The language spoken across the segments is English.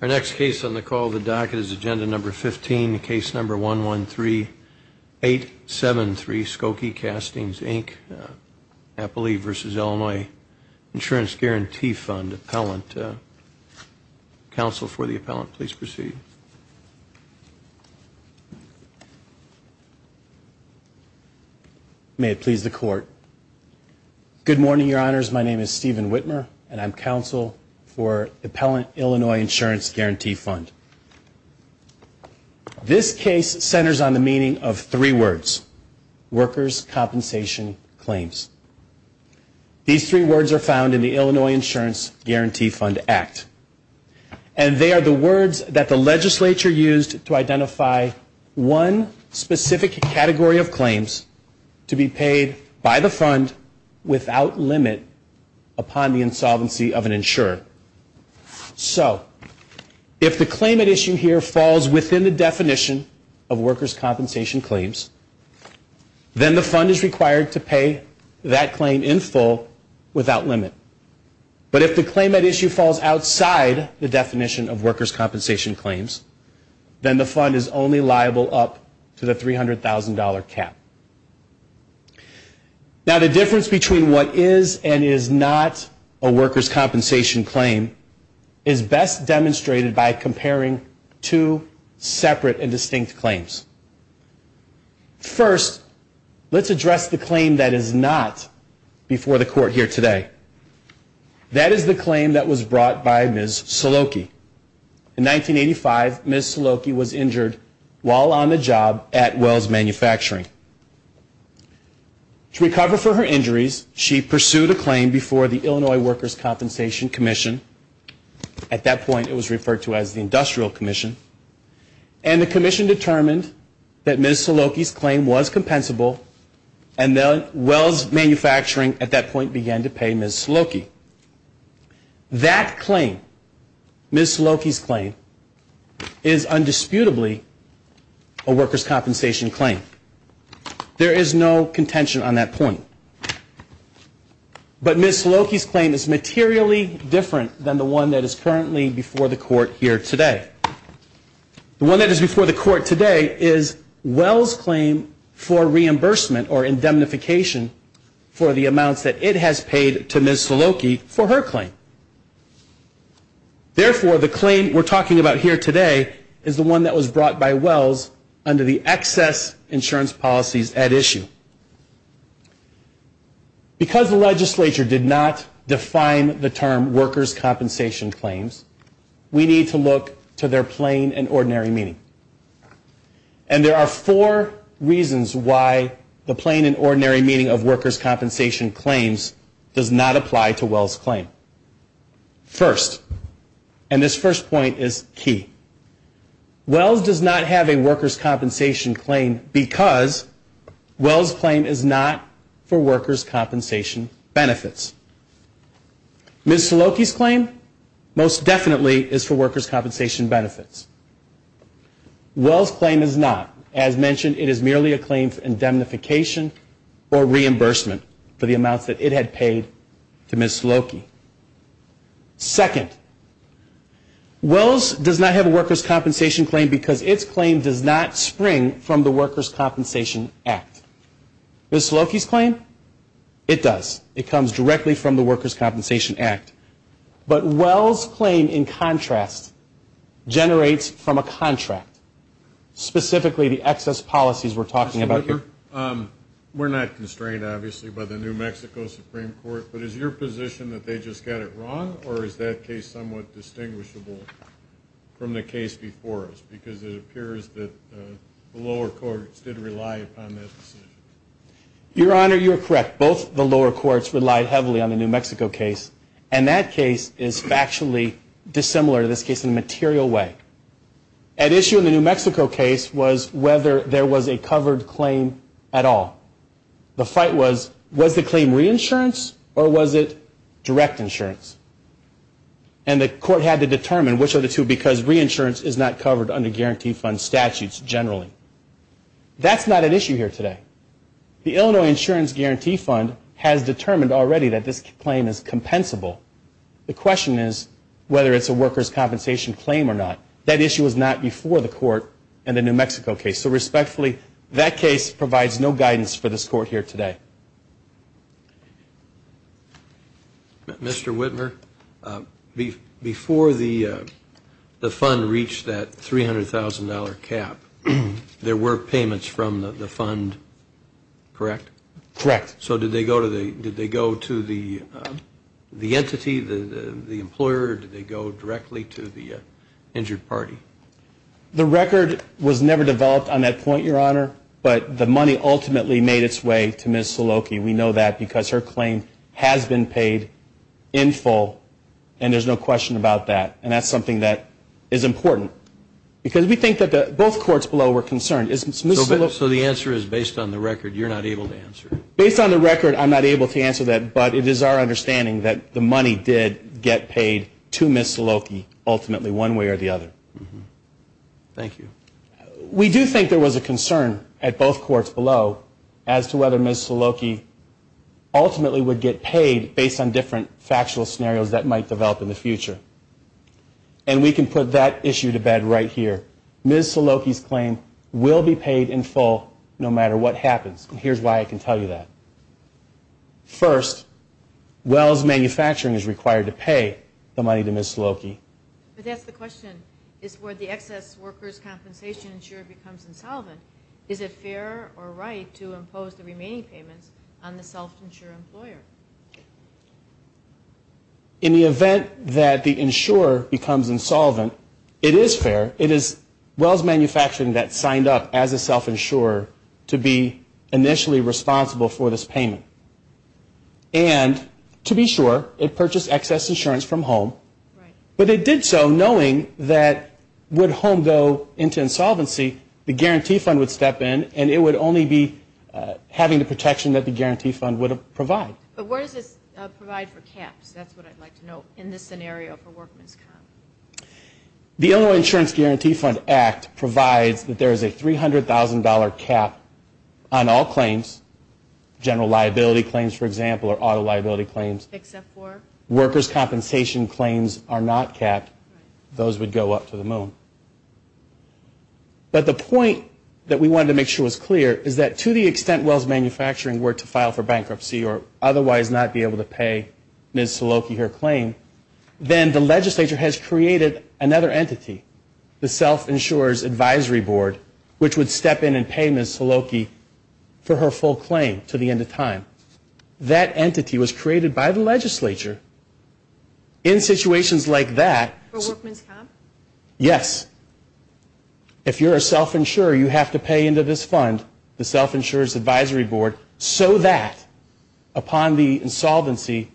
Our next case on the call of the docket is Agenda No. 15, Case No. 113873, Skokie Castings, Inc., Appalachia v. Illinois Insurance Guaranty Fund Appellant. Counsel for the appellant, please proceed. May it please the Court. Good morning, Your Honors. My name is Stephen Whitmer, and I'm Counsel for the Appellant. Illinois Insurance Guaranty Fund. This case centers on the meaning of three words, workers' compensation claims. These three words are found in the Illinois Insurance Guaranty Fund Act, and they are the words that the legislature used to identify one specific category of claims to be paid by the fund without limit upon the insolvency of an insurance claim. So, if the claim at issue here falls within the definition of workers' compensation claims, then the fund is required to pay that claim in full without limit. But if the claim at issue falls outside the definition of workers' compensation claims, then the fund is only liable up to the $300,000 cap. Now, the difference between what is and is not a workers' compensation claim is that the workers' compensation claim is best demonstrated by comparing two separate and distinct claims. First, let's address the claim that is not before the Court here today. That is the claim that was brought by Ms. Saloki. In 1985, Ms. Saloki was injured while on the job at Wells Manufacturing. To recover for her injuries, she pursued a claim before the Illinois Workers' Compensation Commission. At that point, it was referred to as the Industrial Commission. And the commission determined that Ms. Saloki's claim was compensable, and then Wells Manufacturing at that point began to pay Ms. Saloki. That claim, Ms. Saloki's claim, is undisputably a workers' compensation claim. There is no contention on that point. But Ms. Saloki's claim is materially different than the one that is currently before the Court here today. The one that is before the Court today is Wells' claim for reimbursement or indemnification for the amounts that it has paid to Ms. Saloki for her claim. Therefore, the claim we're talking about here today is the one that was brought by Wells under the excess insurance policies at issue. Because the legislature did not define the term workers' compensation claims, we need to look to their plain and ordinary meaning. And there are four reasons why the plain and ordinary meaning of workers' compensation claims does not apply to Wells' claim. First, and this first point is key, Wells does not have a workers' compensation claim because Wells' claim is not for workers' compensation benefits. It is not for workers' compensation benefits. Ms. Saloki's claim most definitely is for workers' compensation benefits. Wells' claim is not. As mentioned, it is merely a claim for indemnification or reimbursement for the amounts that it had paid to Ms. Saloki. Second, Wells does not have a workers' compensation claim because its claim does not spring from the Workers' Compensation Act. Ms. Saloki's claim, it does. It comes directly from the workers' compensation act. But Wells' claim, in contrast, generates from a contract, specifically the excess policies we're talking about here. Mr. Whitaker, we're not constrained, obviously, by the New Mexico Supreme Court, but is your position that they just got it wrong or is that case somewhat distinguishable from the case before us? Because it appears that the lower courts did rely upon that decision. Your Honor, you're correct. Both the lower courts relied heavily on the New Mexico case, and that case is factually dissimilar to this case in a material way. An issue in the New Mexico case was whether there was a covered claim at all. The fight was, was the claim reinsurance or was it direct insurance? And the court had to determine which of the two because reinsurance is not covered under guarantee fund statutes generally. That's not an issue here today. The Illinois insurance guarantee fund has determined already that this claim is compensable. The question is whether it's a workers' compensation claim or not. That issue was not before the court in the New Mexico case. So respectfully, that case provides no guidance for this court here today. Mr. Whitmer, before the fund reached that $300,000 cap, there were payments from the fund, correct? Correct. So did they go to the entity, the employer, or did they go directly to the injured party? The record was never developed on that point, Your Honor, but the money ultimately made its way to Ms. Saloki. We know that because her claim has been paid in full, and there's no question about that. And that's something that is important. Because we think that both courts below were concerned. So the answer is based on the record, you're not able to answer? Based on the record, I'm not able to answer that, but it is our understanding that the money did get paid to Ms. Saloki ultimately one way or the other. Thank you. We do think there was a concern at both courts below as to whether Ms. Saloki ultimately would get paid based on different factual scenarios that might tell you that. First, Wells Manufacturing is required to pay the money to Ms. Saloki. But that's the question, is where the excess workers' compensation insurer becomes insolvent, is it fair or right to impose the remaining payments on the self-insured employer? In the event that the insurer becomes insolvent, it is fair. It is Wells Manufacturing that signed up as a self-insurer to be initially responsible for this payment. And to be sure, it purchased excess insurance from home. But it did so knowing that would home go into insolvency, the guarantee fund would step in and it would only be having the protection that the guarantee fund would provide. But where does this provide for caps? That's what I'd like to know in this scenario for workman's comp. The Illinois Insurance Guarantee Fund Act provides that there is a $300,000 cap on all claims. General liability claims, for example, or auto liability claims. Workers' compensation claims are not capped. Those would go up to the moon. But the point that we wanted to make sure was clear is that to the extent Wells Manufacturing were to file for bankruptcy or otherwise not be able to pay Ms. Saloki her claim, then the legislature has created another entity, the self-insurer's advisory board, which would step in and pay Ms. Saloki for her full claim to the end of time. That entity was created by the legislature in situations like that. For workman's comp? Yes. If you're a self-insurer, you have to pay into this fund, the self-insurer's advisory board, so that upon the insolvency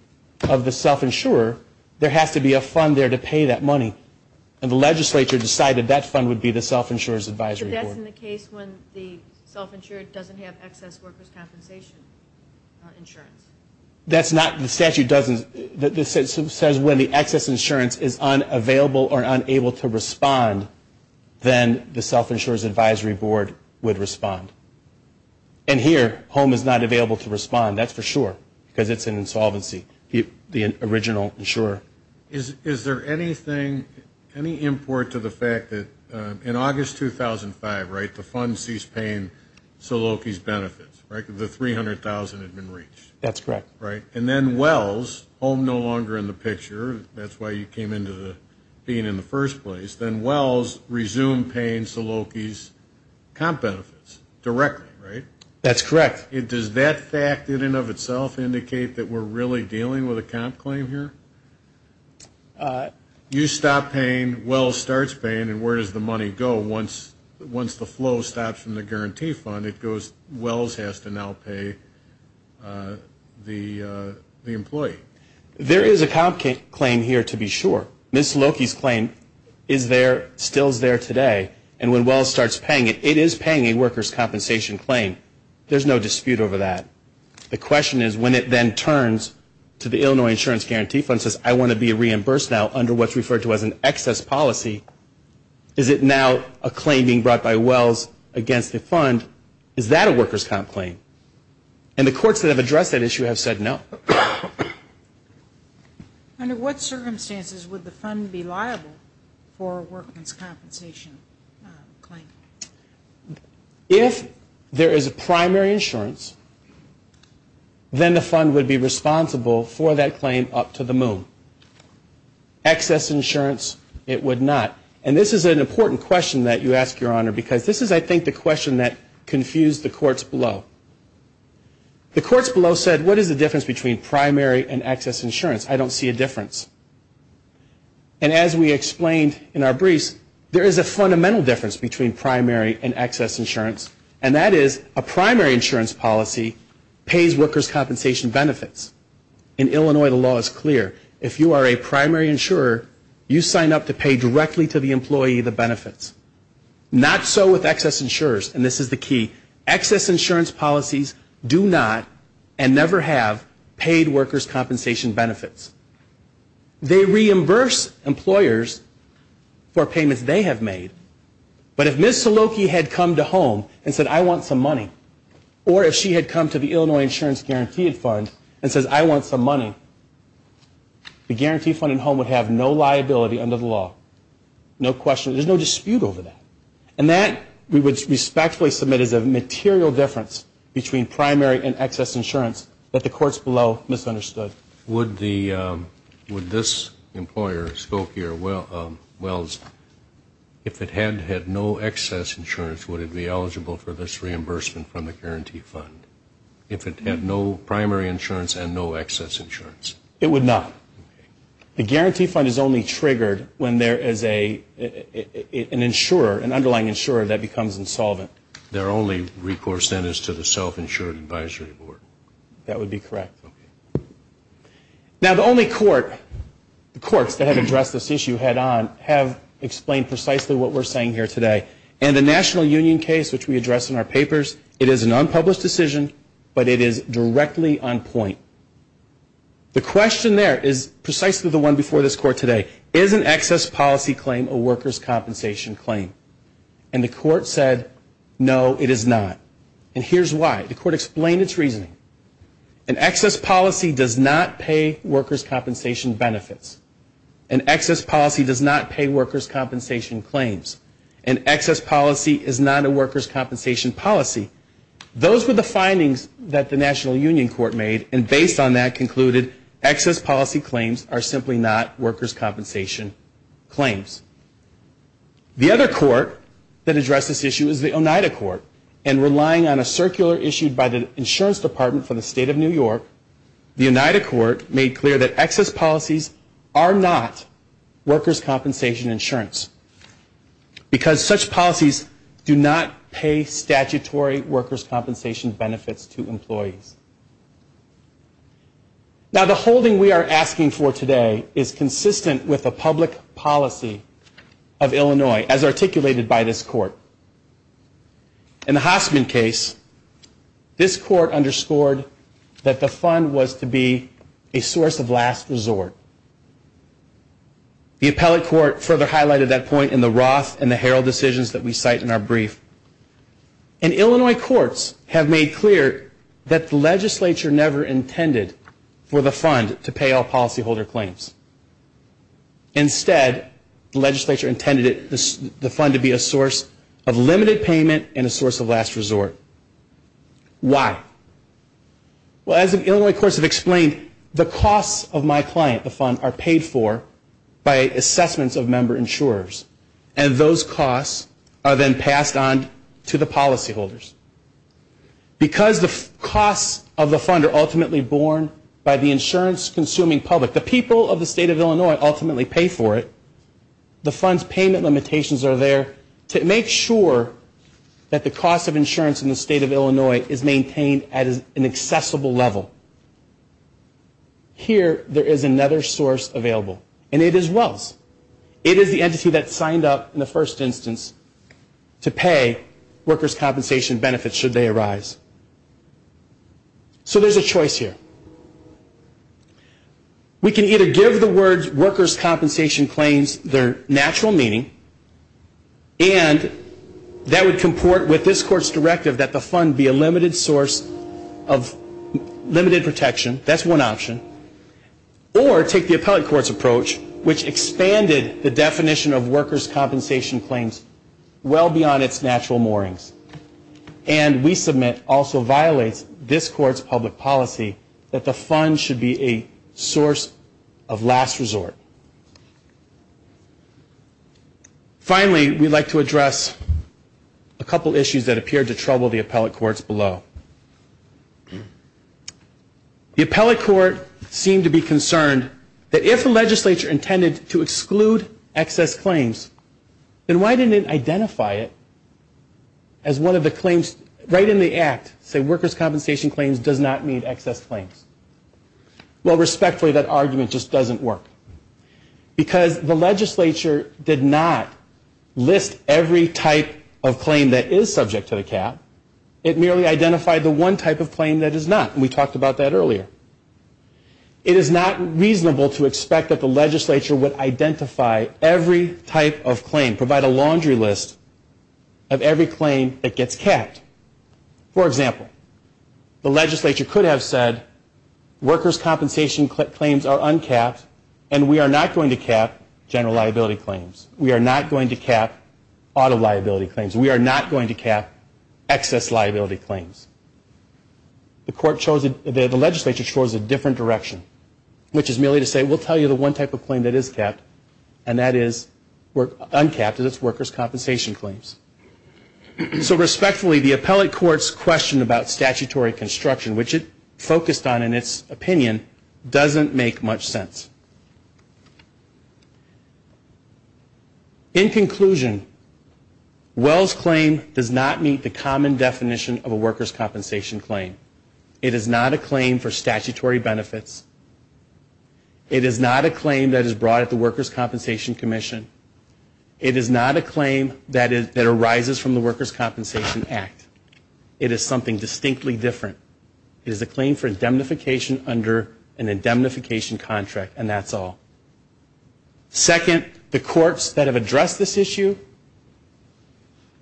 of the self-insurer, there has to be a fund there to pay that money. And the legislature decided that fund would be the self-insurer's advisory board. So that's in the case when the self-insurer doesn't have excess workers' compensation insurance? That's not, the statute doesn't, it says when the excess insurance is unavailable or unable to respond, then the self-insurer's advisory board would respond. And here, HOME is not available to respond, that's for sure, because it's an insolvency, the original insurer. Is there anything, any import to the fact that in August 2005, right, the fund ceased paying Saloki's benefits, right, the $300,000 had been reached? That's correct. And then Wells, HOME no longer in the picture, that's why you came into being in the first place, then Wells resumed paying Saloki's comp claim here? You stopped paying, Wells starts paying, and where does the money go once the flow stops from the guarantee fund? It goes, Wells has to now pay the employee. There is a comp claim here, to be sure. Ms. Saloki's claim is there, still is there today, and when Wells starts paying it, it is paying a workers' compensation claim. There's no dispute over that. The question is, when it then turns to the Illinois Insurance Guarantee Fund and says, I want to be reimbursed now under what's referred to as an excess policy, is it now a claim being brought by Wells against the fund, is that a workers' comp claim? And the courts that have addressed that issue have said no. Under what circumstances would the fund be liable for a workers' compensation claim? If there is a primary insurance, then the fund would be responsible for that claim up to the moon. Excess insurance, it would not. And this is an important question that you ask, Your Honor, because this is, I think, the question that confused the courts below. The courts below said, what is the difference between primary and excess insurance? I don't see a difference. And as we explained in our briefs, there is a fundamental difference between primary and excess insurance, and that is a primary insurance policy pays workers' compensation benefits. In Illinois, the law is clear. If you are a primary insurer, you sign up to pay directly to the employee the benefits. Not so with excess insurers, and this is the key. Excess insurance policies do not and never have paid workers' compensation benefits. They reimburse employers for payments they have made. But if Ms. Saloki had come to home and said, I want some money, or if she had come to the Illinois Insurance Guaranteed Fund and said, I want some money, the Guaranteed Fund at home would have no liability under the law. No question. There is no dispute over that. And that, we would respectfully submit, is a material difference between primary and excess insurance that the courts below misunderstood. Would this employer, Saloki or Wells, if it had no excess insurance, would it be eligible for this reimbursement from the Guaranteed Fund? If it had no primary insurance and no excess insurance? It would not. The Guaranteed Fund is only triggered when there is an insurer, an underlying insurer that becomes insolvent. Their only recourse then is to the self-insured advisory board. That would be correct. Now, the only court, the courts that have addressed this issue head-on have explained precisely what we're saying here today. And the National Union case, which we address in our papers, it is an unpublished decision, but it is directly on point. The question there is precisely the one before this court today. Is an excess policy claim a workers' compensation claim? And the court said, no, it is not. And here's why. The court explained its reasoning. An excess policy does not pay workers' compensation benefits. An excess policy does not pay workers' compensation claims. An excess policy is not a workers' compensation policy. Those were the findings that the National Union Court made, and based on that concluded excess policy claims are simply not workers' compensation claims. The other court that addressed this issue is the Oneida Court. And relying on a circular issued by the Insurance Department for the State of New York, the Oneida Court made clear that excess policies are not workers' compensation insurance. Because such policies do not pay statutory workers' compensation benefits to employees. Now, the holding we are asking for today is consistent with the public policy of Illinois, as articulated by this court. In the Hosman case, this court underscored that the fund was to be a source of last resort. The appellate court further highlighted that point in the Roth and the Herald decisions that we cite in our brief. And Illinois courts have made clear that the legislature never intended for the fund to pay all policyholder claims. Instead, the legislature intended the fund to be a source of limited payment and a source of last resort. Why? Well, as the Illinois courts have explained, the costs of my client, the fund, are paid for by assessments of member insurers. And those costs are then passed on to the policyholders. Because the costs of the fund are ultimately borne by the insurance-consuming public, the people of the State of Illinois ultimately pay for it, the fund's payment limitations are there to make sure that the cost of insurance in the State of Illinois is maintained at an accessible level. Here, there is another source available, and it is Wells. It is the entity that signed up in the first instance to pay workers' compensation benefits should they arise. So there's a choice here. We can either give the words workers' compensation claims their natural meaning, and that would comport with this court's directive that the fund be a limited source of limited protection. That's one option. Or take the appellate court's approach, which expanded the definition of workers' compensation claims well beyond its natural moorings. And we submit also violates this court's public policy that the fund should be a source of last resort. Finally, we'd like to address a couple issues that appear to trouble the appellate courts below. The appellate court seemed to be concerned that if the legislature intended to exclude excess claims, then why didn't it identify it as one of the claims right in the act, say workers' compensation claims does not meet excess claims. Well, respectfully, that argument just doesn't work. Because the legislature did not list every type of claim that is subject to the cap. It merely identified the one type of claim that is not, and we talked about that earlier. It is not reasonable to expect that the legislature would identify every type of claim, provide a laundry list of every claim that gets capped. For example, the legislature could have said workers' compensation claims are uncapped and we are not going to cap general liability claims. We are not going to cap auto liability claims. We are not going to cap excess liability claims. The legislature chose a different direction, which is merely to say we'll tell you the one type of claim that is capped, and that is uncapped, that is workers' compensation claims. So respectfully, the appellate court's question about statutory construction, which it focused on in its opinion, doesn't make much sense. In conclusion, Well's claim does not meet the common definition of a workers' compensation claim. It is not a claim for statutory benefits. It is not a claim that is brought at the Workers' Compensation Commission. It is not a claim that arises from the Workers' Compensation Act. It is something distinctly different. It is a claim for indemnification under an indemnification contract, and that's all. Second, the courts that have addressed this issue,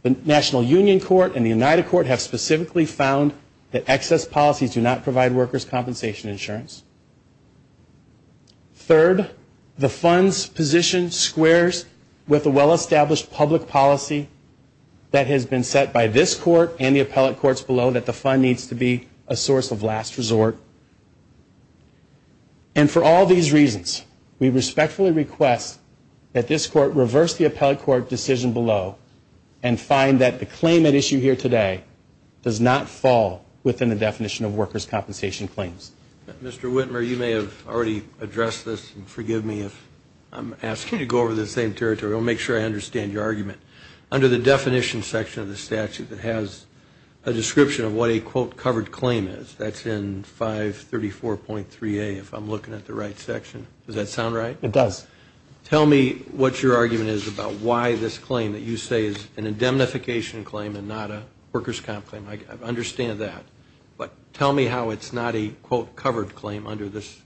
the National Union Court and the United Court, have specifically found that excess policies do not provide workers' compensation insurance. Third, the fund's position squares with a well-established public policy that has been set by this court and the appellate courts below that the fund needs to be a source of last resort. And for all these reasons, we respectfully request that this court reverse the appellate court decision below and find that the claim at issue here today does not fall within the definition of workers' compensation claims. Mr. Whitmer, you may have already addressed this, and forgive me if I'm asking you to go over to the same territory. I want to make sure I understand your argument. Under the definition section of the statute that has a description of what a, quote, covered claim is, that's in 534.3a, if I'm looking at the right section. Does that sound right? It does. Tell me what your argument is about why this claim that you say is an indemnification claim and not a workers' comp claim. I understand that. But tell me how it's not a, quote, covered claim under this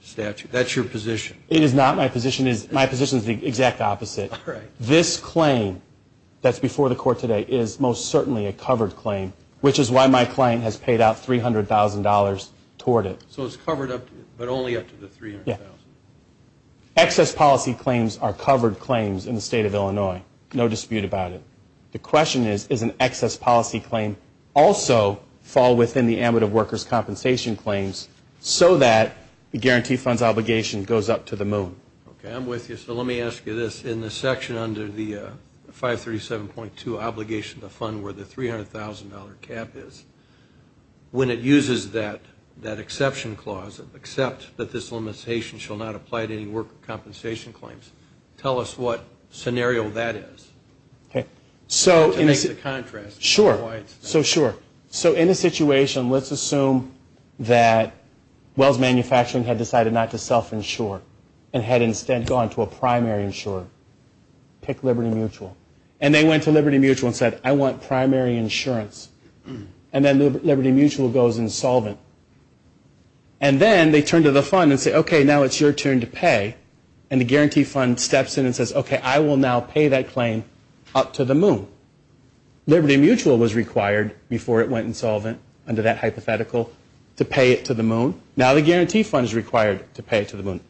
statute. That's your position. It is not. My position is the exact opposite. This claim that's before the court today is most certainly a covered claim, which is why my claim has paid out $300,000 toward it. So it's covered, but only up to the $300,000? Excess policy claims are covered claims in the state of Illinois. No dispute about it. The question is, is an excess policy claim also fall within the ambitive workers' compensation claims so that the guarantee fund's obligation goes up to the moon? Okay, I'm with you. So let me ask you this. In the section under the 537.2 obligation to fund where the $300,000 cap is, when it uses that exception clause, accept that this limitation shall not apply to any workers' compensation claims, tell us what scenario that is. Okay. So in a situation, let's assume that Wells Manufacturing had decided not to self-insure and had instead gone to a primary insurer, pick Liberty Mutual. And they went to Liberty Mutual and said, I want primary insurance. And then Liberty Mutual goes insolvent. And then they turn to the fund and say, okay, now it's your turn to pay. And the guarantee fund steps in and says, okay, I will now pay that claim up to the moon. Liberty Mutual was required before it went insolvent under that hypothetical to pay it to the moon. Now the guarantee fund is required to pay it to the moon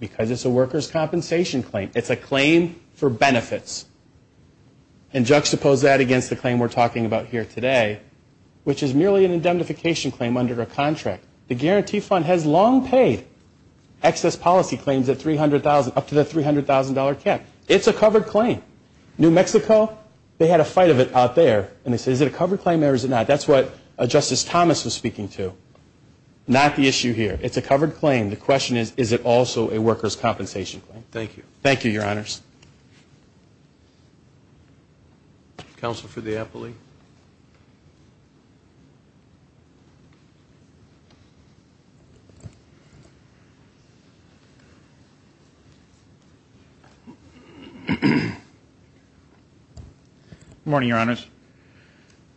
because it's a workers' compensation claim. It's a claim for benefits. And juxtapose that against the claim we're talking about here today, which is merely an indemnification claim under a contract. The guarantee fund has long paid excess policy claims up to the $300,000 cap. It's a covered claim. New Mexico, they had a fight of it out there. And they said, is it a covered claim or is it not? That's what Justice Thomas was speaking to. Not the issue here. It's a covered claim. The question is, is it also a workers' compensation claim? Thank you. Thank you, Your Honors. Counsel for the Eppley. Good morning, Your Honors.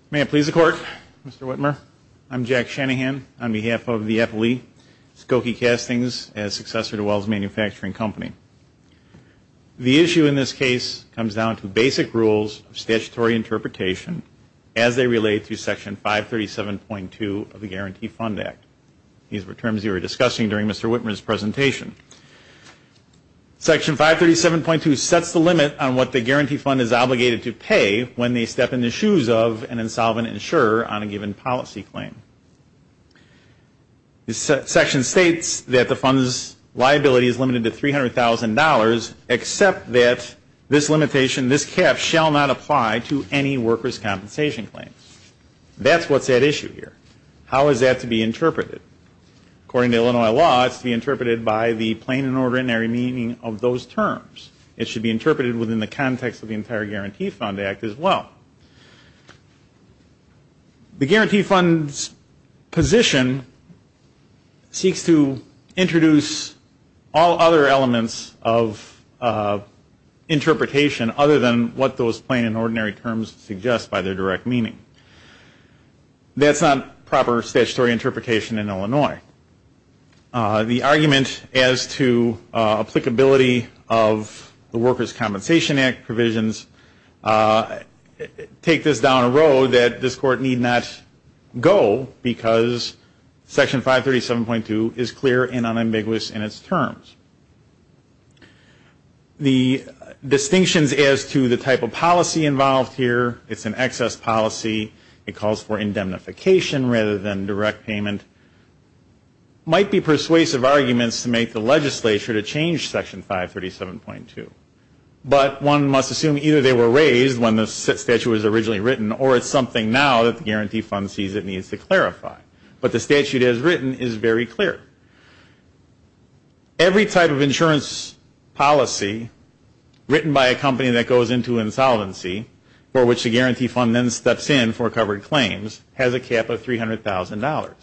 May it please the Court, Mr. Whitmer. I'm Jack Shanahan on behalf of the Eppley, Skokie Castings as successor to Wells Manufacturing Company. The issue in this case comes down to basic rules of statutory interpretation as they relate to Section 537.2 of the Guarantee Fund Act. These were terms you were discussing during Mr. Whitmer's presentation. Section 537.2 sets the limit on what the guarantee fund is obligated to pay when they step in the shoes of an insolvent insurer on a given policy claim. This section states that the fund's liability is limited to $300,000, except that this limitation, this cap, shall not apply to any workers' compensation claim. That's what's at issue here. How is that to be interpreted? According to Illinois law, it's to be interpreted by the plain and ordinary meaning of those terms. It should be interpreted within the context of the entire Guarantee Fund Act as well. The Guarantee Fund's position seeks to introduce all other elements of interpretation other than what those plain and ordinary terms suggest by their direct meaning. That's not proper statutory interpretation in Illinois. The argument as to applicability of the Workers' Compensation Act provisions take this down a road that this Court need not go because Section 537.2 is clear and unambiguous in its terms. The distinctions as to the type of policy involved here, it's an excess policy, it calls for indemnification rather than direct payment, might be persuasive arguments to make the legislature to change Section 537.2. But one must assume either they were raised when the statute was originally written or it's something now that the Guarantee Fund sees it needs to clarify. But the statute as written is very clear. Every type of insurance policy written by a company that goes into insolvency for which the Guarantee Fund then steps in for covered claims has a cap of $300,000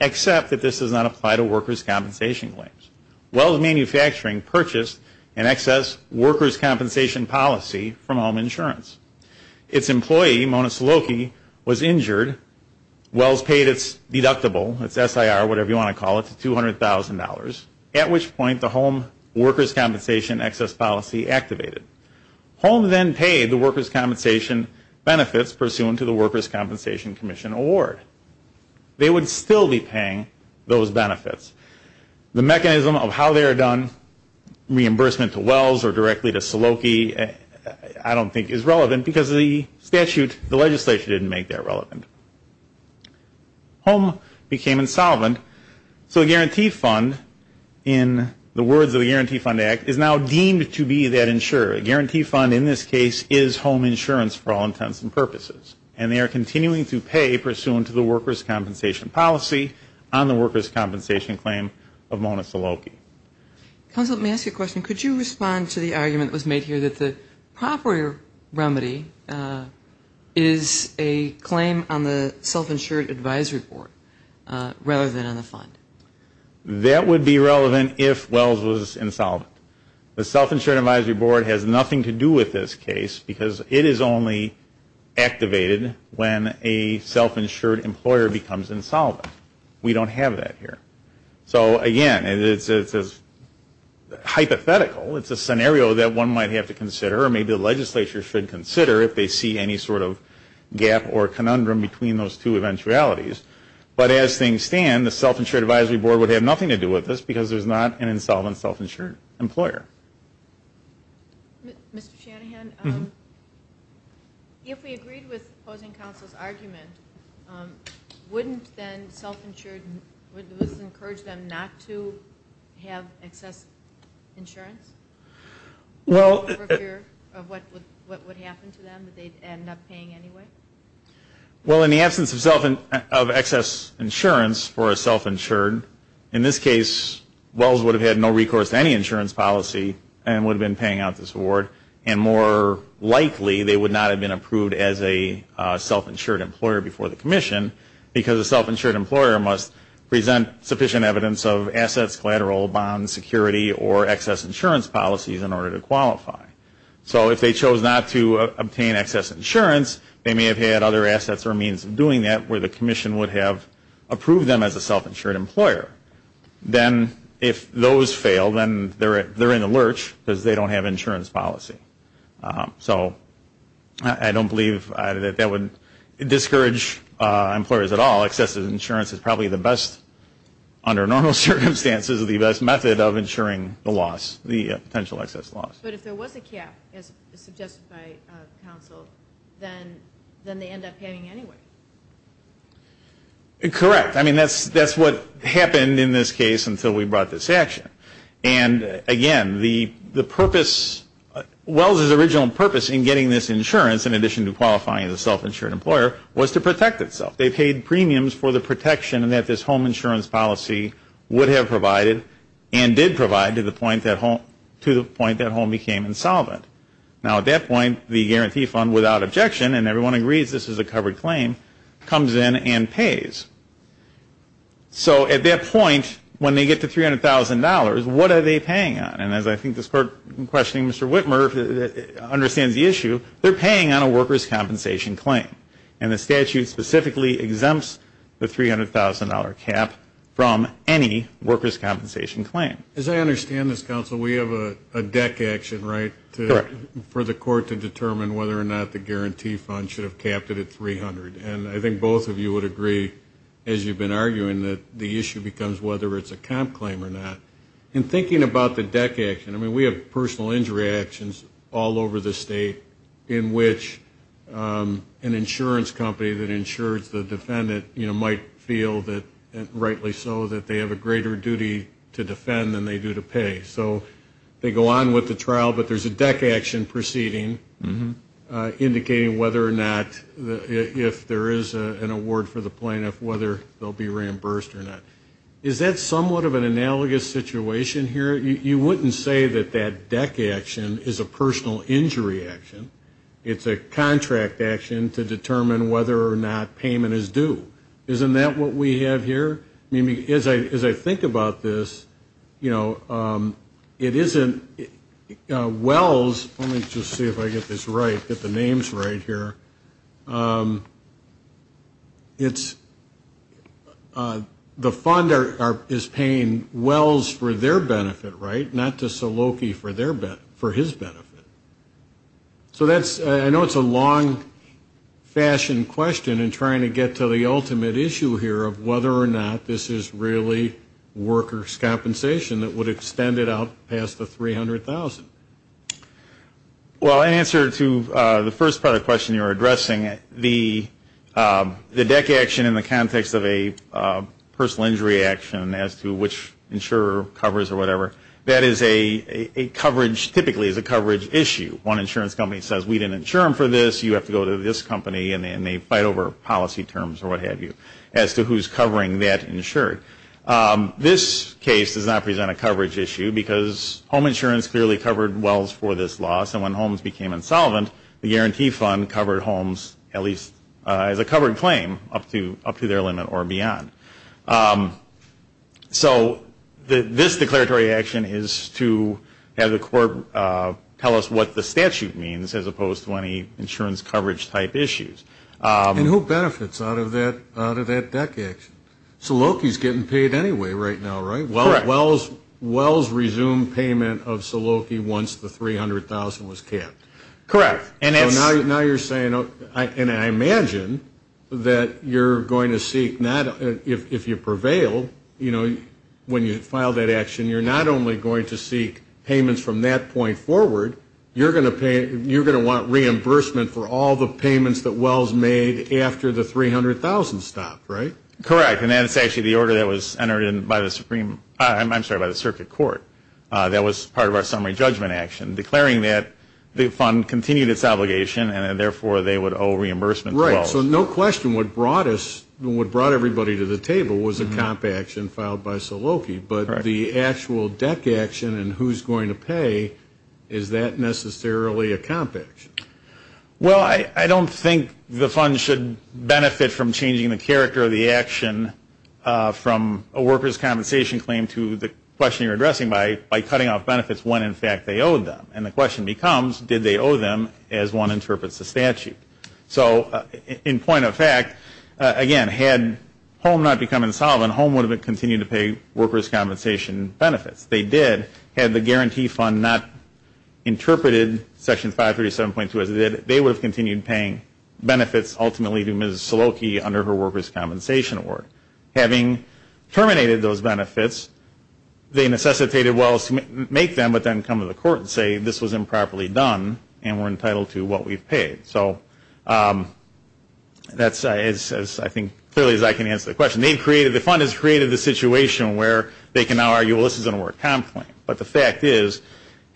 except that this does not apply to workers' compensation claims. Wells Manufacturing purchased an excess workers' compensation policy from Home Insurance. Its employee, Mona Saloki, was injured. Wells paid its deductible, its SIR, whatever you want to call it, to $200,000, at which point the home workers' compensation excess policy activated. Home then paid the workers' compensation benefits pursuant to the Workers' Compensation Commission Award. They would still be paying those benefits. The mechanism of how they are done, reimbursement to Wells or directly to Saloki, I don't think is relevant because the statute, the legislature didn't make that relevant. Home became insolvent, so the Guarantee Fund, in the words of the Guarantee Fund Act, is now deemed to be that insurer. A Guarantee Fund, in this case, is home insurance for all intents and purposes. And they are continuing to pay pursuant to the Workers' Compensation policy on the Workers' Compensation claim of Mona Saloki. Counsel, let me ask you a question. Could you respond to the argument that was made here that the proper remedy is a claim on the Self-Insured Advisory Board rather than on the fund? That would be relevant if Wells was insolvent. The Self-Insured Advisory Board has nothing to do with this case because it is only activated when a self-insured employer becomes insolvent. We don't have that here. So, again, it's hypothetical. It's a scenario that one might have to consider or maybe the legislature should consider if they see any sort of gap or conundrum between those two eventualities. But as things stand, the Self-Insured Advisory Board would have nothing to do with this because there's not an insolvent self-insured employer. Mr. Shanahan, if we agreed with opposing counsel's argument, wouldn't then self-insured, would this encourage them not to have excess insurance? Well... For fear of what would happen to them, that they'd end up paying anyway? Well, in the absence of excess insurance for a self-insured, in this case, Wells would have had no recourse to any insurance policy and would have been paying out this award, and more likely they would not have been approved as a self-insured employer before the commission because a self-insured employer must present sufficient evidence of assets, collateral, bonds, security, or excess insurance policies in order to qualify. So if they chose not to obtain excess insurance, they may have had other assets or means of doing that where the commission would have approved them as a self-insured employer. Then if those fail, then they're in a lurch because they don't have insurance policy. So I don't believe that that would discourage employers at all. Excessive insurance is probably the best, under normal circumstances, the best method of insuring the loss, the potential excess loss. But if there was a cap, as suggested by counsel, then they end up paying anyway. Correct. I mean, that's what happened in this case until we brought this action. And, again, the purpose, Wells' original purpose in getting this insurance in addition to qualifying as a self-insured employer was to protect itself. They paid premiums for the protection that this home insurance policy would have provided and did provide to the point that home became insolvent. Now, at that point, the guarantee fund, without objection, and everyone agrees this is a covered claim, comes in and pays. So at that point, when they get to $300,000, what are they paying on? And as I think the clerk questioning Mr. Whitmer understands the issue, they're paying on a workers' compensation claim. And the statute specifically exempts the $300,000 cap from any workers' compensation claim. As I understand this, counsel, we have a deck action, right? Correct. For the court to determine whether or not the guarantee fund should have capped it at $300,000. And I think both of you would agree, as you've been arguing, that the issue becomes whether it's a comp claim or not. In thinking about the deck action, I mean, we have personal injury actions all over the state in which an insurance company that insures the defendant might feel, rightly so, that they have a greater duty to defend than they do to pay. So they go on with the trial, but there's a deck action proceeding indicating whether or not, if there is an award for the plaintiff, whether they'll be reimbursed or not. Is that somewhat of an analogous situation here? You wouldn't say that that deck action is a personal injury action. It's a contract action to determine whether or not payment is due. Isn't that what we have here? I mean, as I think about this, you know, it isn't wells. Let me just see if I get this right, get the names right here. It's the fund is paying wells for their benefit, right, not to Saloki for his benefit. So I know it's a long-fashioned question in trying to get to the ultimate issue here of whether or not this is really workers' compensation that would extend it out past the $300,000. Well, in answer to the first part of the question you were addressing, the deck action in the context of a personal injury action as to which insurer covers or whatever, that is a coverage, typically is a coverage issue. One insurance company says we didn't insure them for this, you have to go to this company and they fight over policy terms or what have you as to who's covering that insurer. This case does not present a coverage issue because home insurance clearly covered wells for this loss and when homes became insolvent, the guarantee fund covered homes at least as a covered claim up to their limit or beyond. So this declaratory action is to have the court tell us what the statute means as opposed to any insurance coverage-type issues. And who benefits out of that deck action? Saloki's getting paid anyway right now, right? Correct. Wells resumed payment of Saloki once the $300,000 was capped. Correct. Now you're saying, and I imagine that you're going to seek, if you prevail, when you file that action, you're not only going to seek payments from that point forward, you're going to want reimbursement for all the payments that Wells made after the $300,000 stopped, right? Correct. And that's actually the order that was entered in by the Supreme, I'm sorry, by the circuit court that was part of our summary judgment action declaring that the fund continued its obligation and therefore they would owe reimbursement to Wells. Right. So no question what brought us, what brought everybody to the table was a comp action filed by Saloki. But the actual deck action and who's going to pay, is that necessarily a comp action? Well, I don't think the fund should benefit from changing the character of the action from a workers' compensation claim to the question you're addressing by cutting off benefits when in fact they owed them. And the question becomes, did they owe them as one interprets the statute? So in point of fact, again, had HOME not become insolvent, HOME would have continued to pay workers' compensation benefits. They did. Had the guarantee fund not interpreted Section 537.2 as it did, they would have continued paying benefits ultimately to Ms. Saloki under her workers' compensation award. Having terminated those benefits, they necessitated Wells to make them but then come to the court and say this was improperly done and we're entitled to what we've paid. So that's, as I think clearly as I can answer the question, the fund has created the situation where they can now argue, well, this is a work comp claim. But the fact is,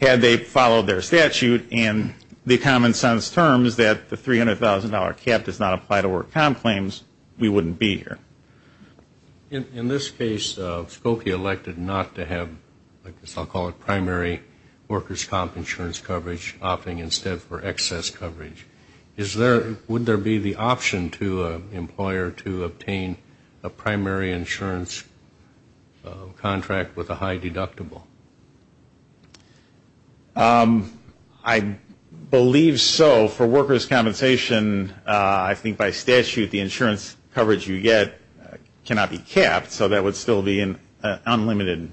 had they followed their statute and the common sense terms that the $300,000 cap does not apply to work comp claims, we wouldn't be here. In this case, Saloki elected not to have, I guess I'll call it primary workers' comp insurance coverage, opting instead for excess coverage. Would there be the option to an employer to obtain a primary insurance contract with a high deductible? I believe so. For workers' compensation, I think by statute the insurance coverage you get cannot be capped, so that would still be an unlimited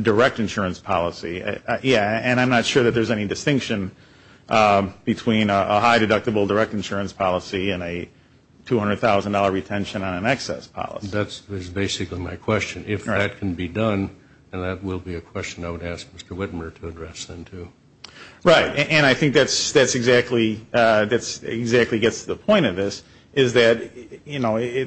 direct insurance policy. And I'm not sure that there's any distinction between a high deductible direct insurance policy and a $200,000 retention on an excess policy. That's basically my question. If that can be done, then that will be a question I would ask Mr. Whitmer to address then, too. Right. And I think that exactly gets to the point of this, is that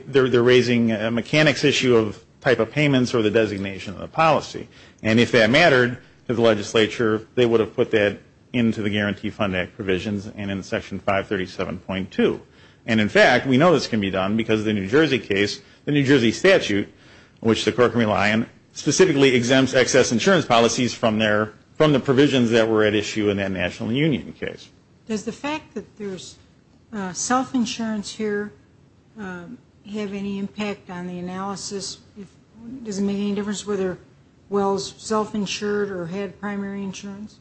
they're raising a mechanics issue of type of payments or the designation of the policy. And if that mattered to the legislature, they would have put that into the Guarantee Fund Act provisions and in Section 537.2. And, in fact, we know this can be done because the New Jersey case, the New Jersey statute, which the court can rely on, specifically exempts excess insurance policies from the provisions that were at issue in that national union case. Does the fact that there's self-insurance here have any impact on the analysis? Does it make any difference whether Wells self-insured or had primary insurance?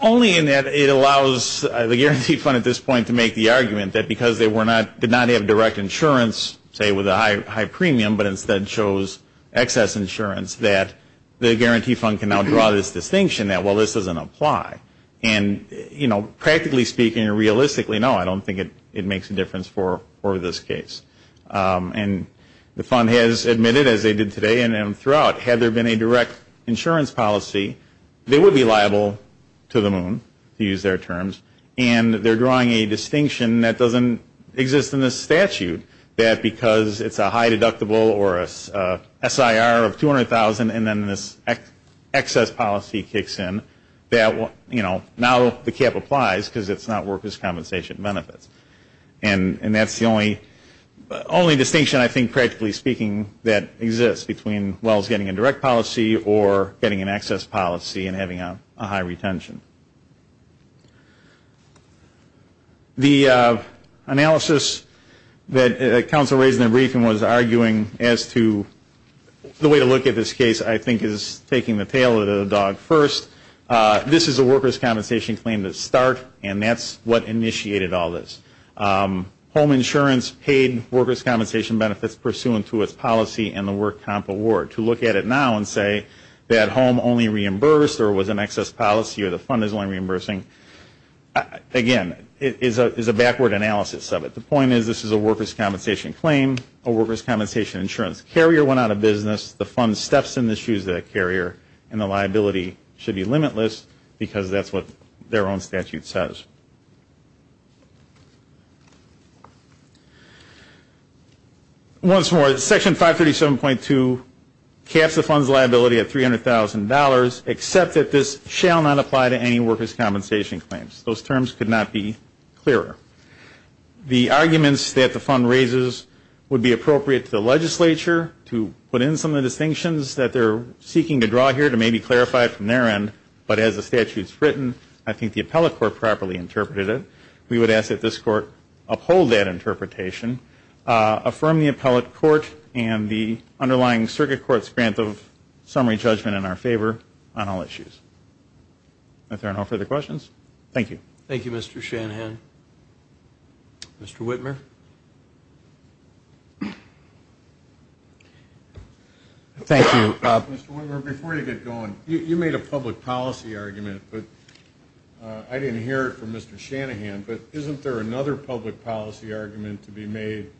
Only in that it allows the Guarantee Fund at this point to make the argument that because they did not have direct insurance, say with a high premium, but instead chose excess insurance, that the Guarantee Fund can now draw this distinction that, well, this doesn't apply. And, you know, practically speaking or realistically, no, I don't think it makes a difference for this case. And the fund has admitted, as they did today and throughout, had there been a direct insurance policy, they would be liable to the moon, to use their terms. And they're drawing a distinction that doesn't exist in this statute, that because it's a high deductible or a SIR of $200,000 and then this excess policy kicks in, that, you know, now the cap applies because it's not workers' compensation benefits. And that's the only distinction, I think, practically speaking, that exists between Wells getting a direct policy or getting an excess policy and having a high retention. The analysis that counsel raised in the briefing was arguing as to the way to look at this case, I think is taking the tail of the dog first. This is a workers' compensation claim to start, and that's what initiated all this. Home insurance paid workers' compensation benefits pursuant to its policy and the work comp award. To look at it now and say that home only reimbursed or was an excess policy or the fund is only reimbursing, again, is a backward analysis of it. The point is this is a workers' compensation claim, a workers' compensation insurance carrier went out of business, the fund steps in the shoes of that carrier, and the liability should be limitless because that's what their own statute says. Once more, Section 537.2 caps the fund's liability at $300,000, except that this shall not apply to any workers' compensation claims. Those terms could not be clearer. The arguments that the fund raises would be appropriate to the legislature to put in some of the distinctions that they're seeking to draw here to maybe clarify it from their end, but as the statute's written, I think the appellate court properly interpreted it. We would ask that this court uphold that interpretation, affirm the appellate court and the underlying circuit court's grant of summary judgment in our favor on all issues. If there are no further questions, thank you. Thank you, Mr. Shanahan. Mr. Whitmer? Thank you. Mr. Whitmer, before you get going, you made a public policy argument, but I didn't hear it from Mr. Shanahan, but isn't there another public policy argument to be made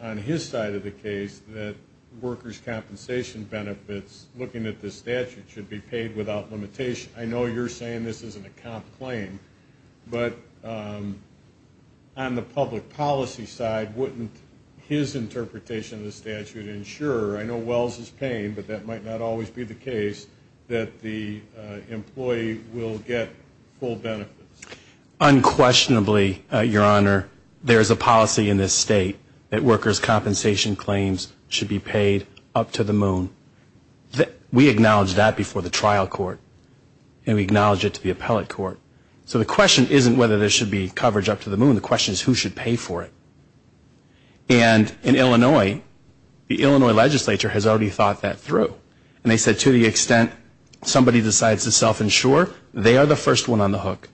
on his side of the case that workers' compensation benefits, looking at this statute, should be paid without limitation? I know you're saying this is an account claim, but on the public policy side, wouldn't his interpretation of the statute ensure, I know Wells is paying, but that might not always be the case, that the employee will get full benefits? Unquestionably, Your Honor, there is a policy in this state that workers' compensation claims should be paid up to the moon. We acknowledged that before the trial court, and we acknowledge it to the appellate court. So the question isn't whether there should be coverage up to the moon. The question is who should pay for it. And in Illinois, the Illinois legislature has already thought that through. And they said to the extent somebody decides to self-insure, they are the first one on the hook.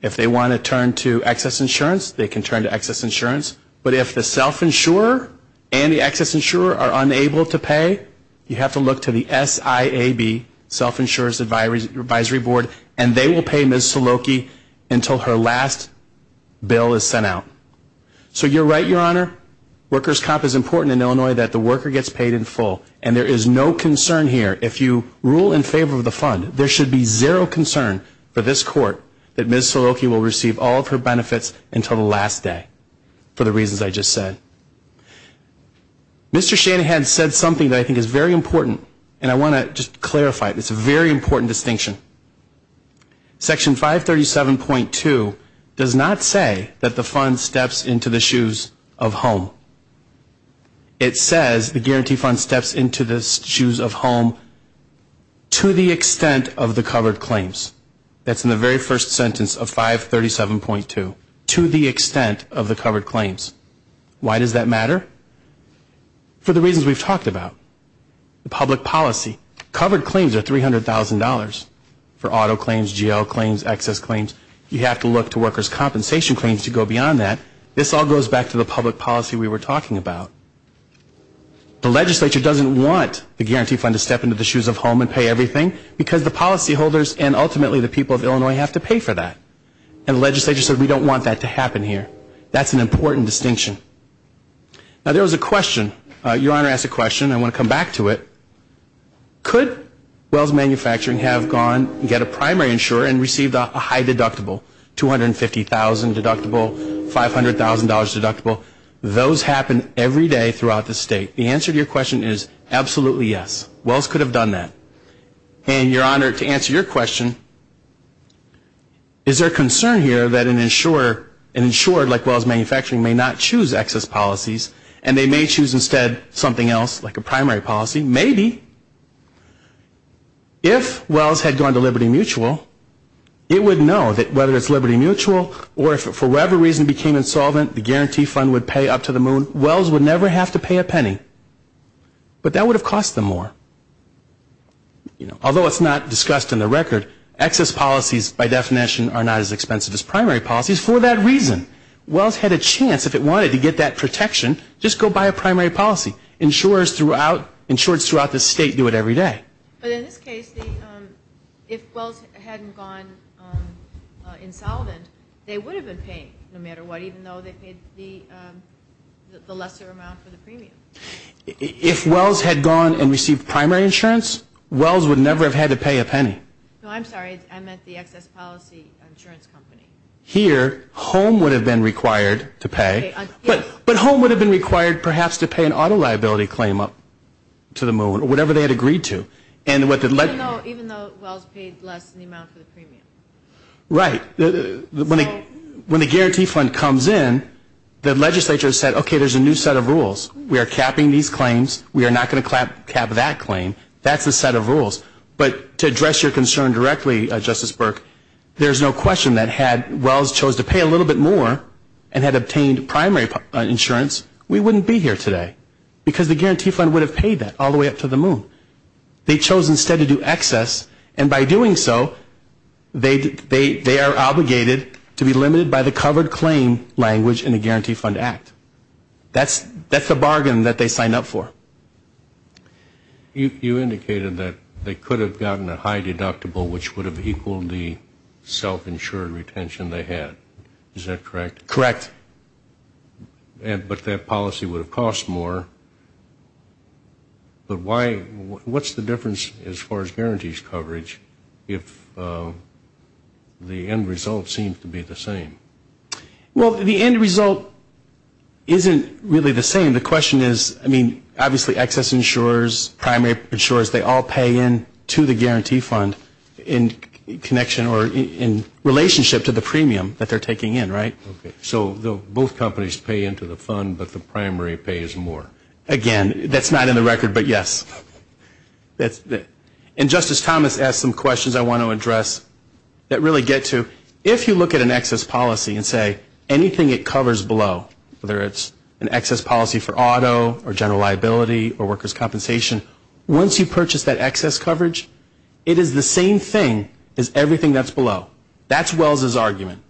If they want to turn to excess insurance, they can turn to excess insurance. But if the self-insurer and the excess insurer are unable to pay, you have to look to the SIAB, self-insurer's advisory board, and they will pay Ms. Suloki until her last bill is sent out. So you're right, Your Honor. Workers' comp is important in Illinois that the worker gets paid in full. And there is no concern here. If you rule in favor of the fund, there should be zero concern for this court that Ms. Suloki will receive all of her benefits until the last day. For the reasons I just said. Mr. Shanahan said something that I think is very important. And I want to just clarify it. It's a very important distinction. Section 537.2 does not say that the fund steps into the shoes of home. It says the guarantee fund steps into the shoes of home to the extent of the covered claims. That's in the very first sentence of 537.2. To the extent of the covered claims. Why does that matter? For the reasons we've talked about. The public policy. Covered claims are $300,000 for auto claims, GL claims, excess claims. You have to look to workers' compensation claims to go beyond that. This all goes back to the public policy we were talking about. The legislature doesn't want the guarantee fund to step into the shoes of home and pay everything because the policyholders and ultimately the people of Illinois have to pay for that. And the legislature said we don't want that to happen here. That's an important distinction. Now there was a question. Your Honor asked a question. I want to come back to it. Could Wells Manufacturing have gone and get a primary insurer and received a high deductible? $250,000 deductible, $500,000 deductible. Those happen every day throughout the state. The answer to your question is absolutely yes. Wells could have done that. And, Your Honor, to answer your question, is there a concern here that an insurer like Wells Manufacturing may not choose excess policies and they may choose instead something else like a primary policy? Maybe. If Wells had gone to Liberty Mutual, it would know that whether it's Liberty Mutual or if it for whatever reason became insolvent the guarantee fund would pay up to the moon, Wells would never have to pay a penny. But that would have cost them more. Although it's not discussed in the record, excess policies by definition are not as expensive as primary policies for that reason. Wells had a chance if it wanted to get that protection, just go buy a primary policy. Insurers throughout the state do it every day. But in this case, if Wells hadn't gone insolvent, they would have been paying no matter what even though they paid the lesser amount for the premium. If Wells had gone and received primary insurance, Wells would never have had to pay a penny. No, I'm sorry. I meant the excess policy insurance company. Here, home would have been required to pay. But home would have been required perhaps to pay an auto liability claim up to the moon or whatever they had agreed to. Even though Wells paid less than the amount for the premium. Right. When the guarantee fund comes in, the legislature said, okay, there's a new set of rules. We are capping these claims. We are not going to cap that claim. That's the set of rules. But to address your concern directly, Justice Burke, there's no question that had Wells chose to pay a little bit more and had obtained primary insurance, we wouldn't be here today because the guarantee fund would have paid that all the way up to the moon. They chose instead to do excess, and by doing so, they are obligated to be limited by the covered claim language in the guarantee fund act. That's the bargain that they signed up for. You indicated that they could have gotten a high deductible, which would have equaled the self-insured retention they had. Is that correct? Correct. But that policy would have cost more. But what's the difference, as far as guarantees coverage, if the end result seems to be the same? Well, the end result isn't really the same. The question is, I mean, obviously, excess insurers, primary insurers, they all pay in to the guarantee fund in connection or in relationship to the premium that they're taking in, right? Okay. So both companies pay in to the fund, but the primary pays more. Again, that's not in the record, but yes. And Justice Thomas asked some questions I want to address that really get to, if you look at an excess policy and say anything it covers below, whether it's an excess policy for auto or general liability or workers' compensation, once you purchase that excess coverage, it is the same thing as everything that's below. That's Wells' argument.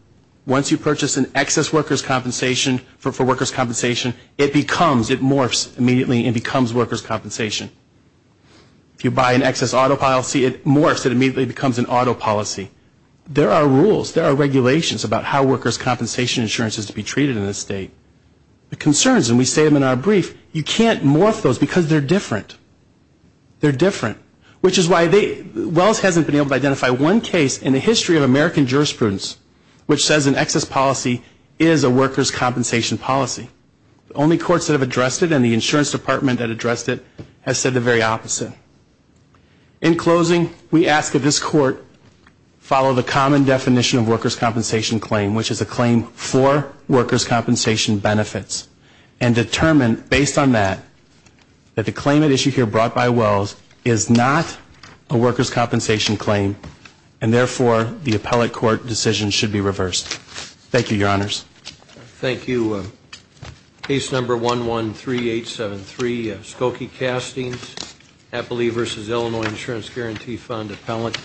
Once you purchase an excess workers' compensation for workers' compensation, it becomes, it morphs immediately and becomes workers' compensation. If you buy an excess auto policy, it morphs, it immediately becomes an auto policy. There are rules, there are regulations about how workers' compensation insurance is to be treated in this state. The concerns, and we say them in our brief, you can't morph those because they're different. They're different, which is why Wells hasn't been able to identify one case in the history of American jurisprudence which says an excess policy is a workers' compensation policy. The only courts that have addressed it, and the insurance department that addressed it, has said the very opposite. In closing, we ask that this court follow the common definition of workers' compensation claim, which is a claim for workers' compensation benefits, and determine, based on that, that the claim at issue here brought by Wells is not a workers' compensation claim, and therefore the appellate court decision should be reversed. Thank you, Your Honors. Thank you. Case number 113873, Skokie Castings, Appalachia v. Illinois Insurance Guarantee Fund Appellant.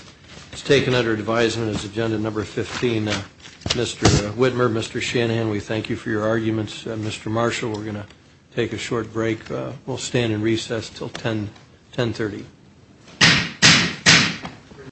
It's taken under advisement as agenda number 15. Mr. Whitmer, Mr. Shanahan, we thank you for your arguments. Mr. Marshall, we're going to take a short break. We'll stand in recess until 1030.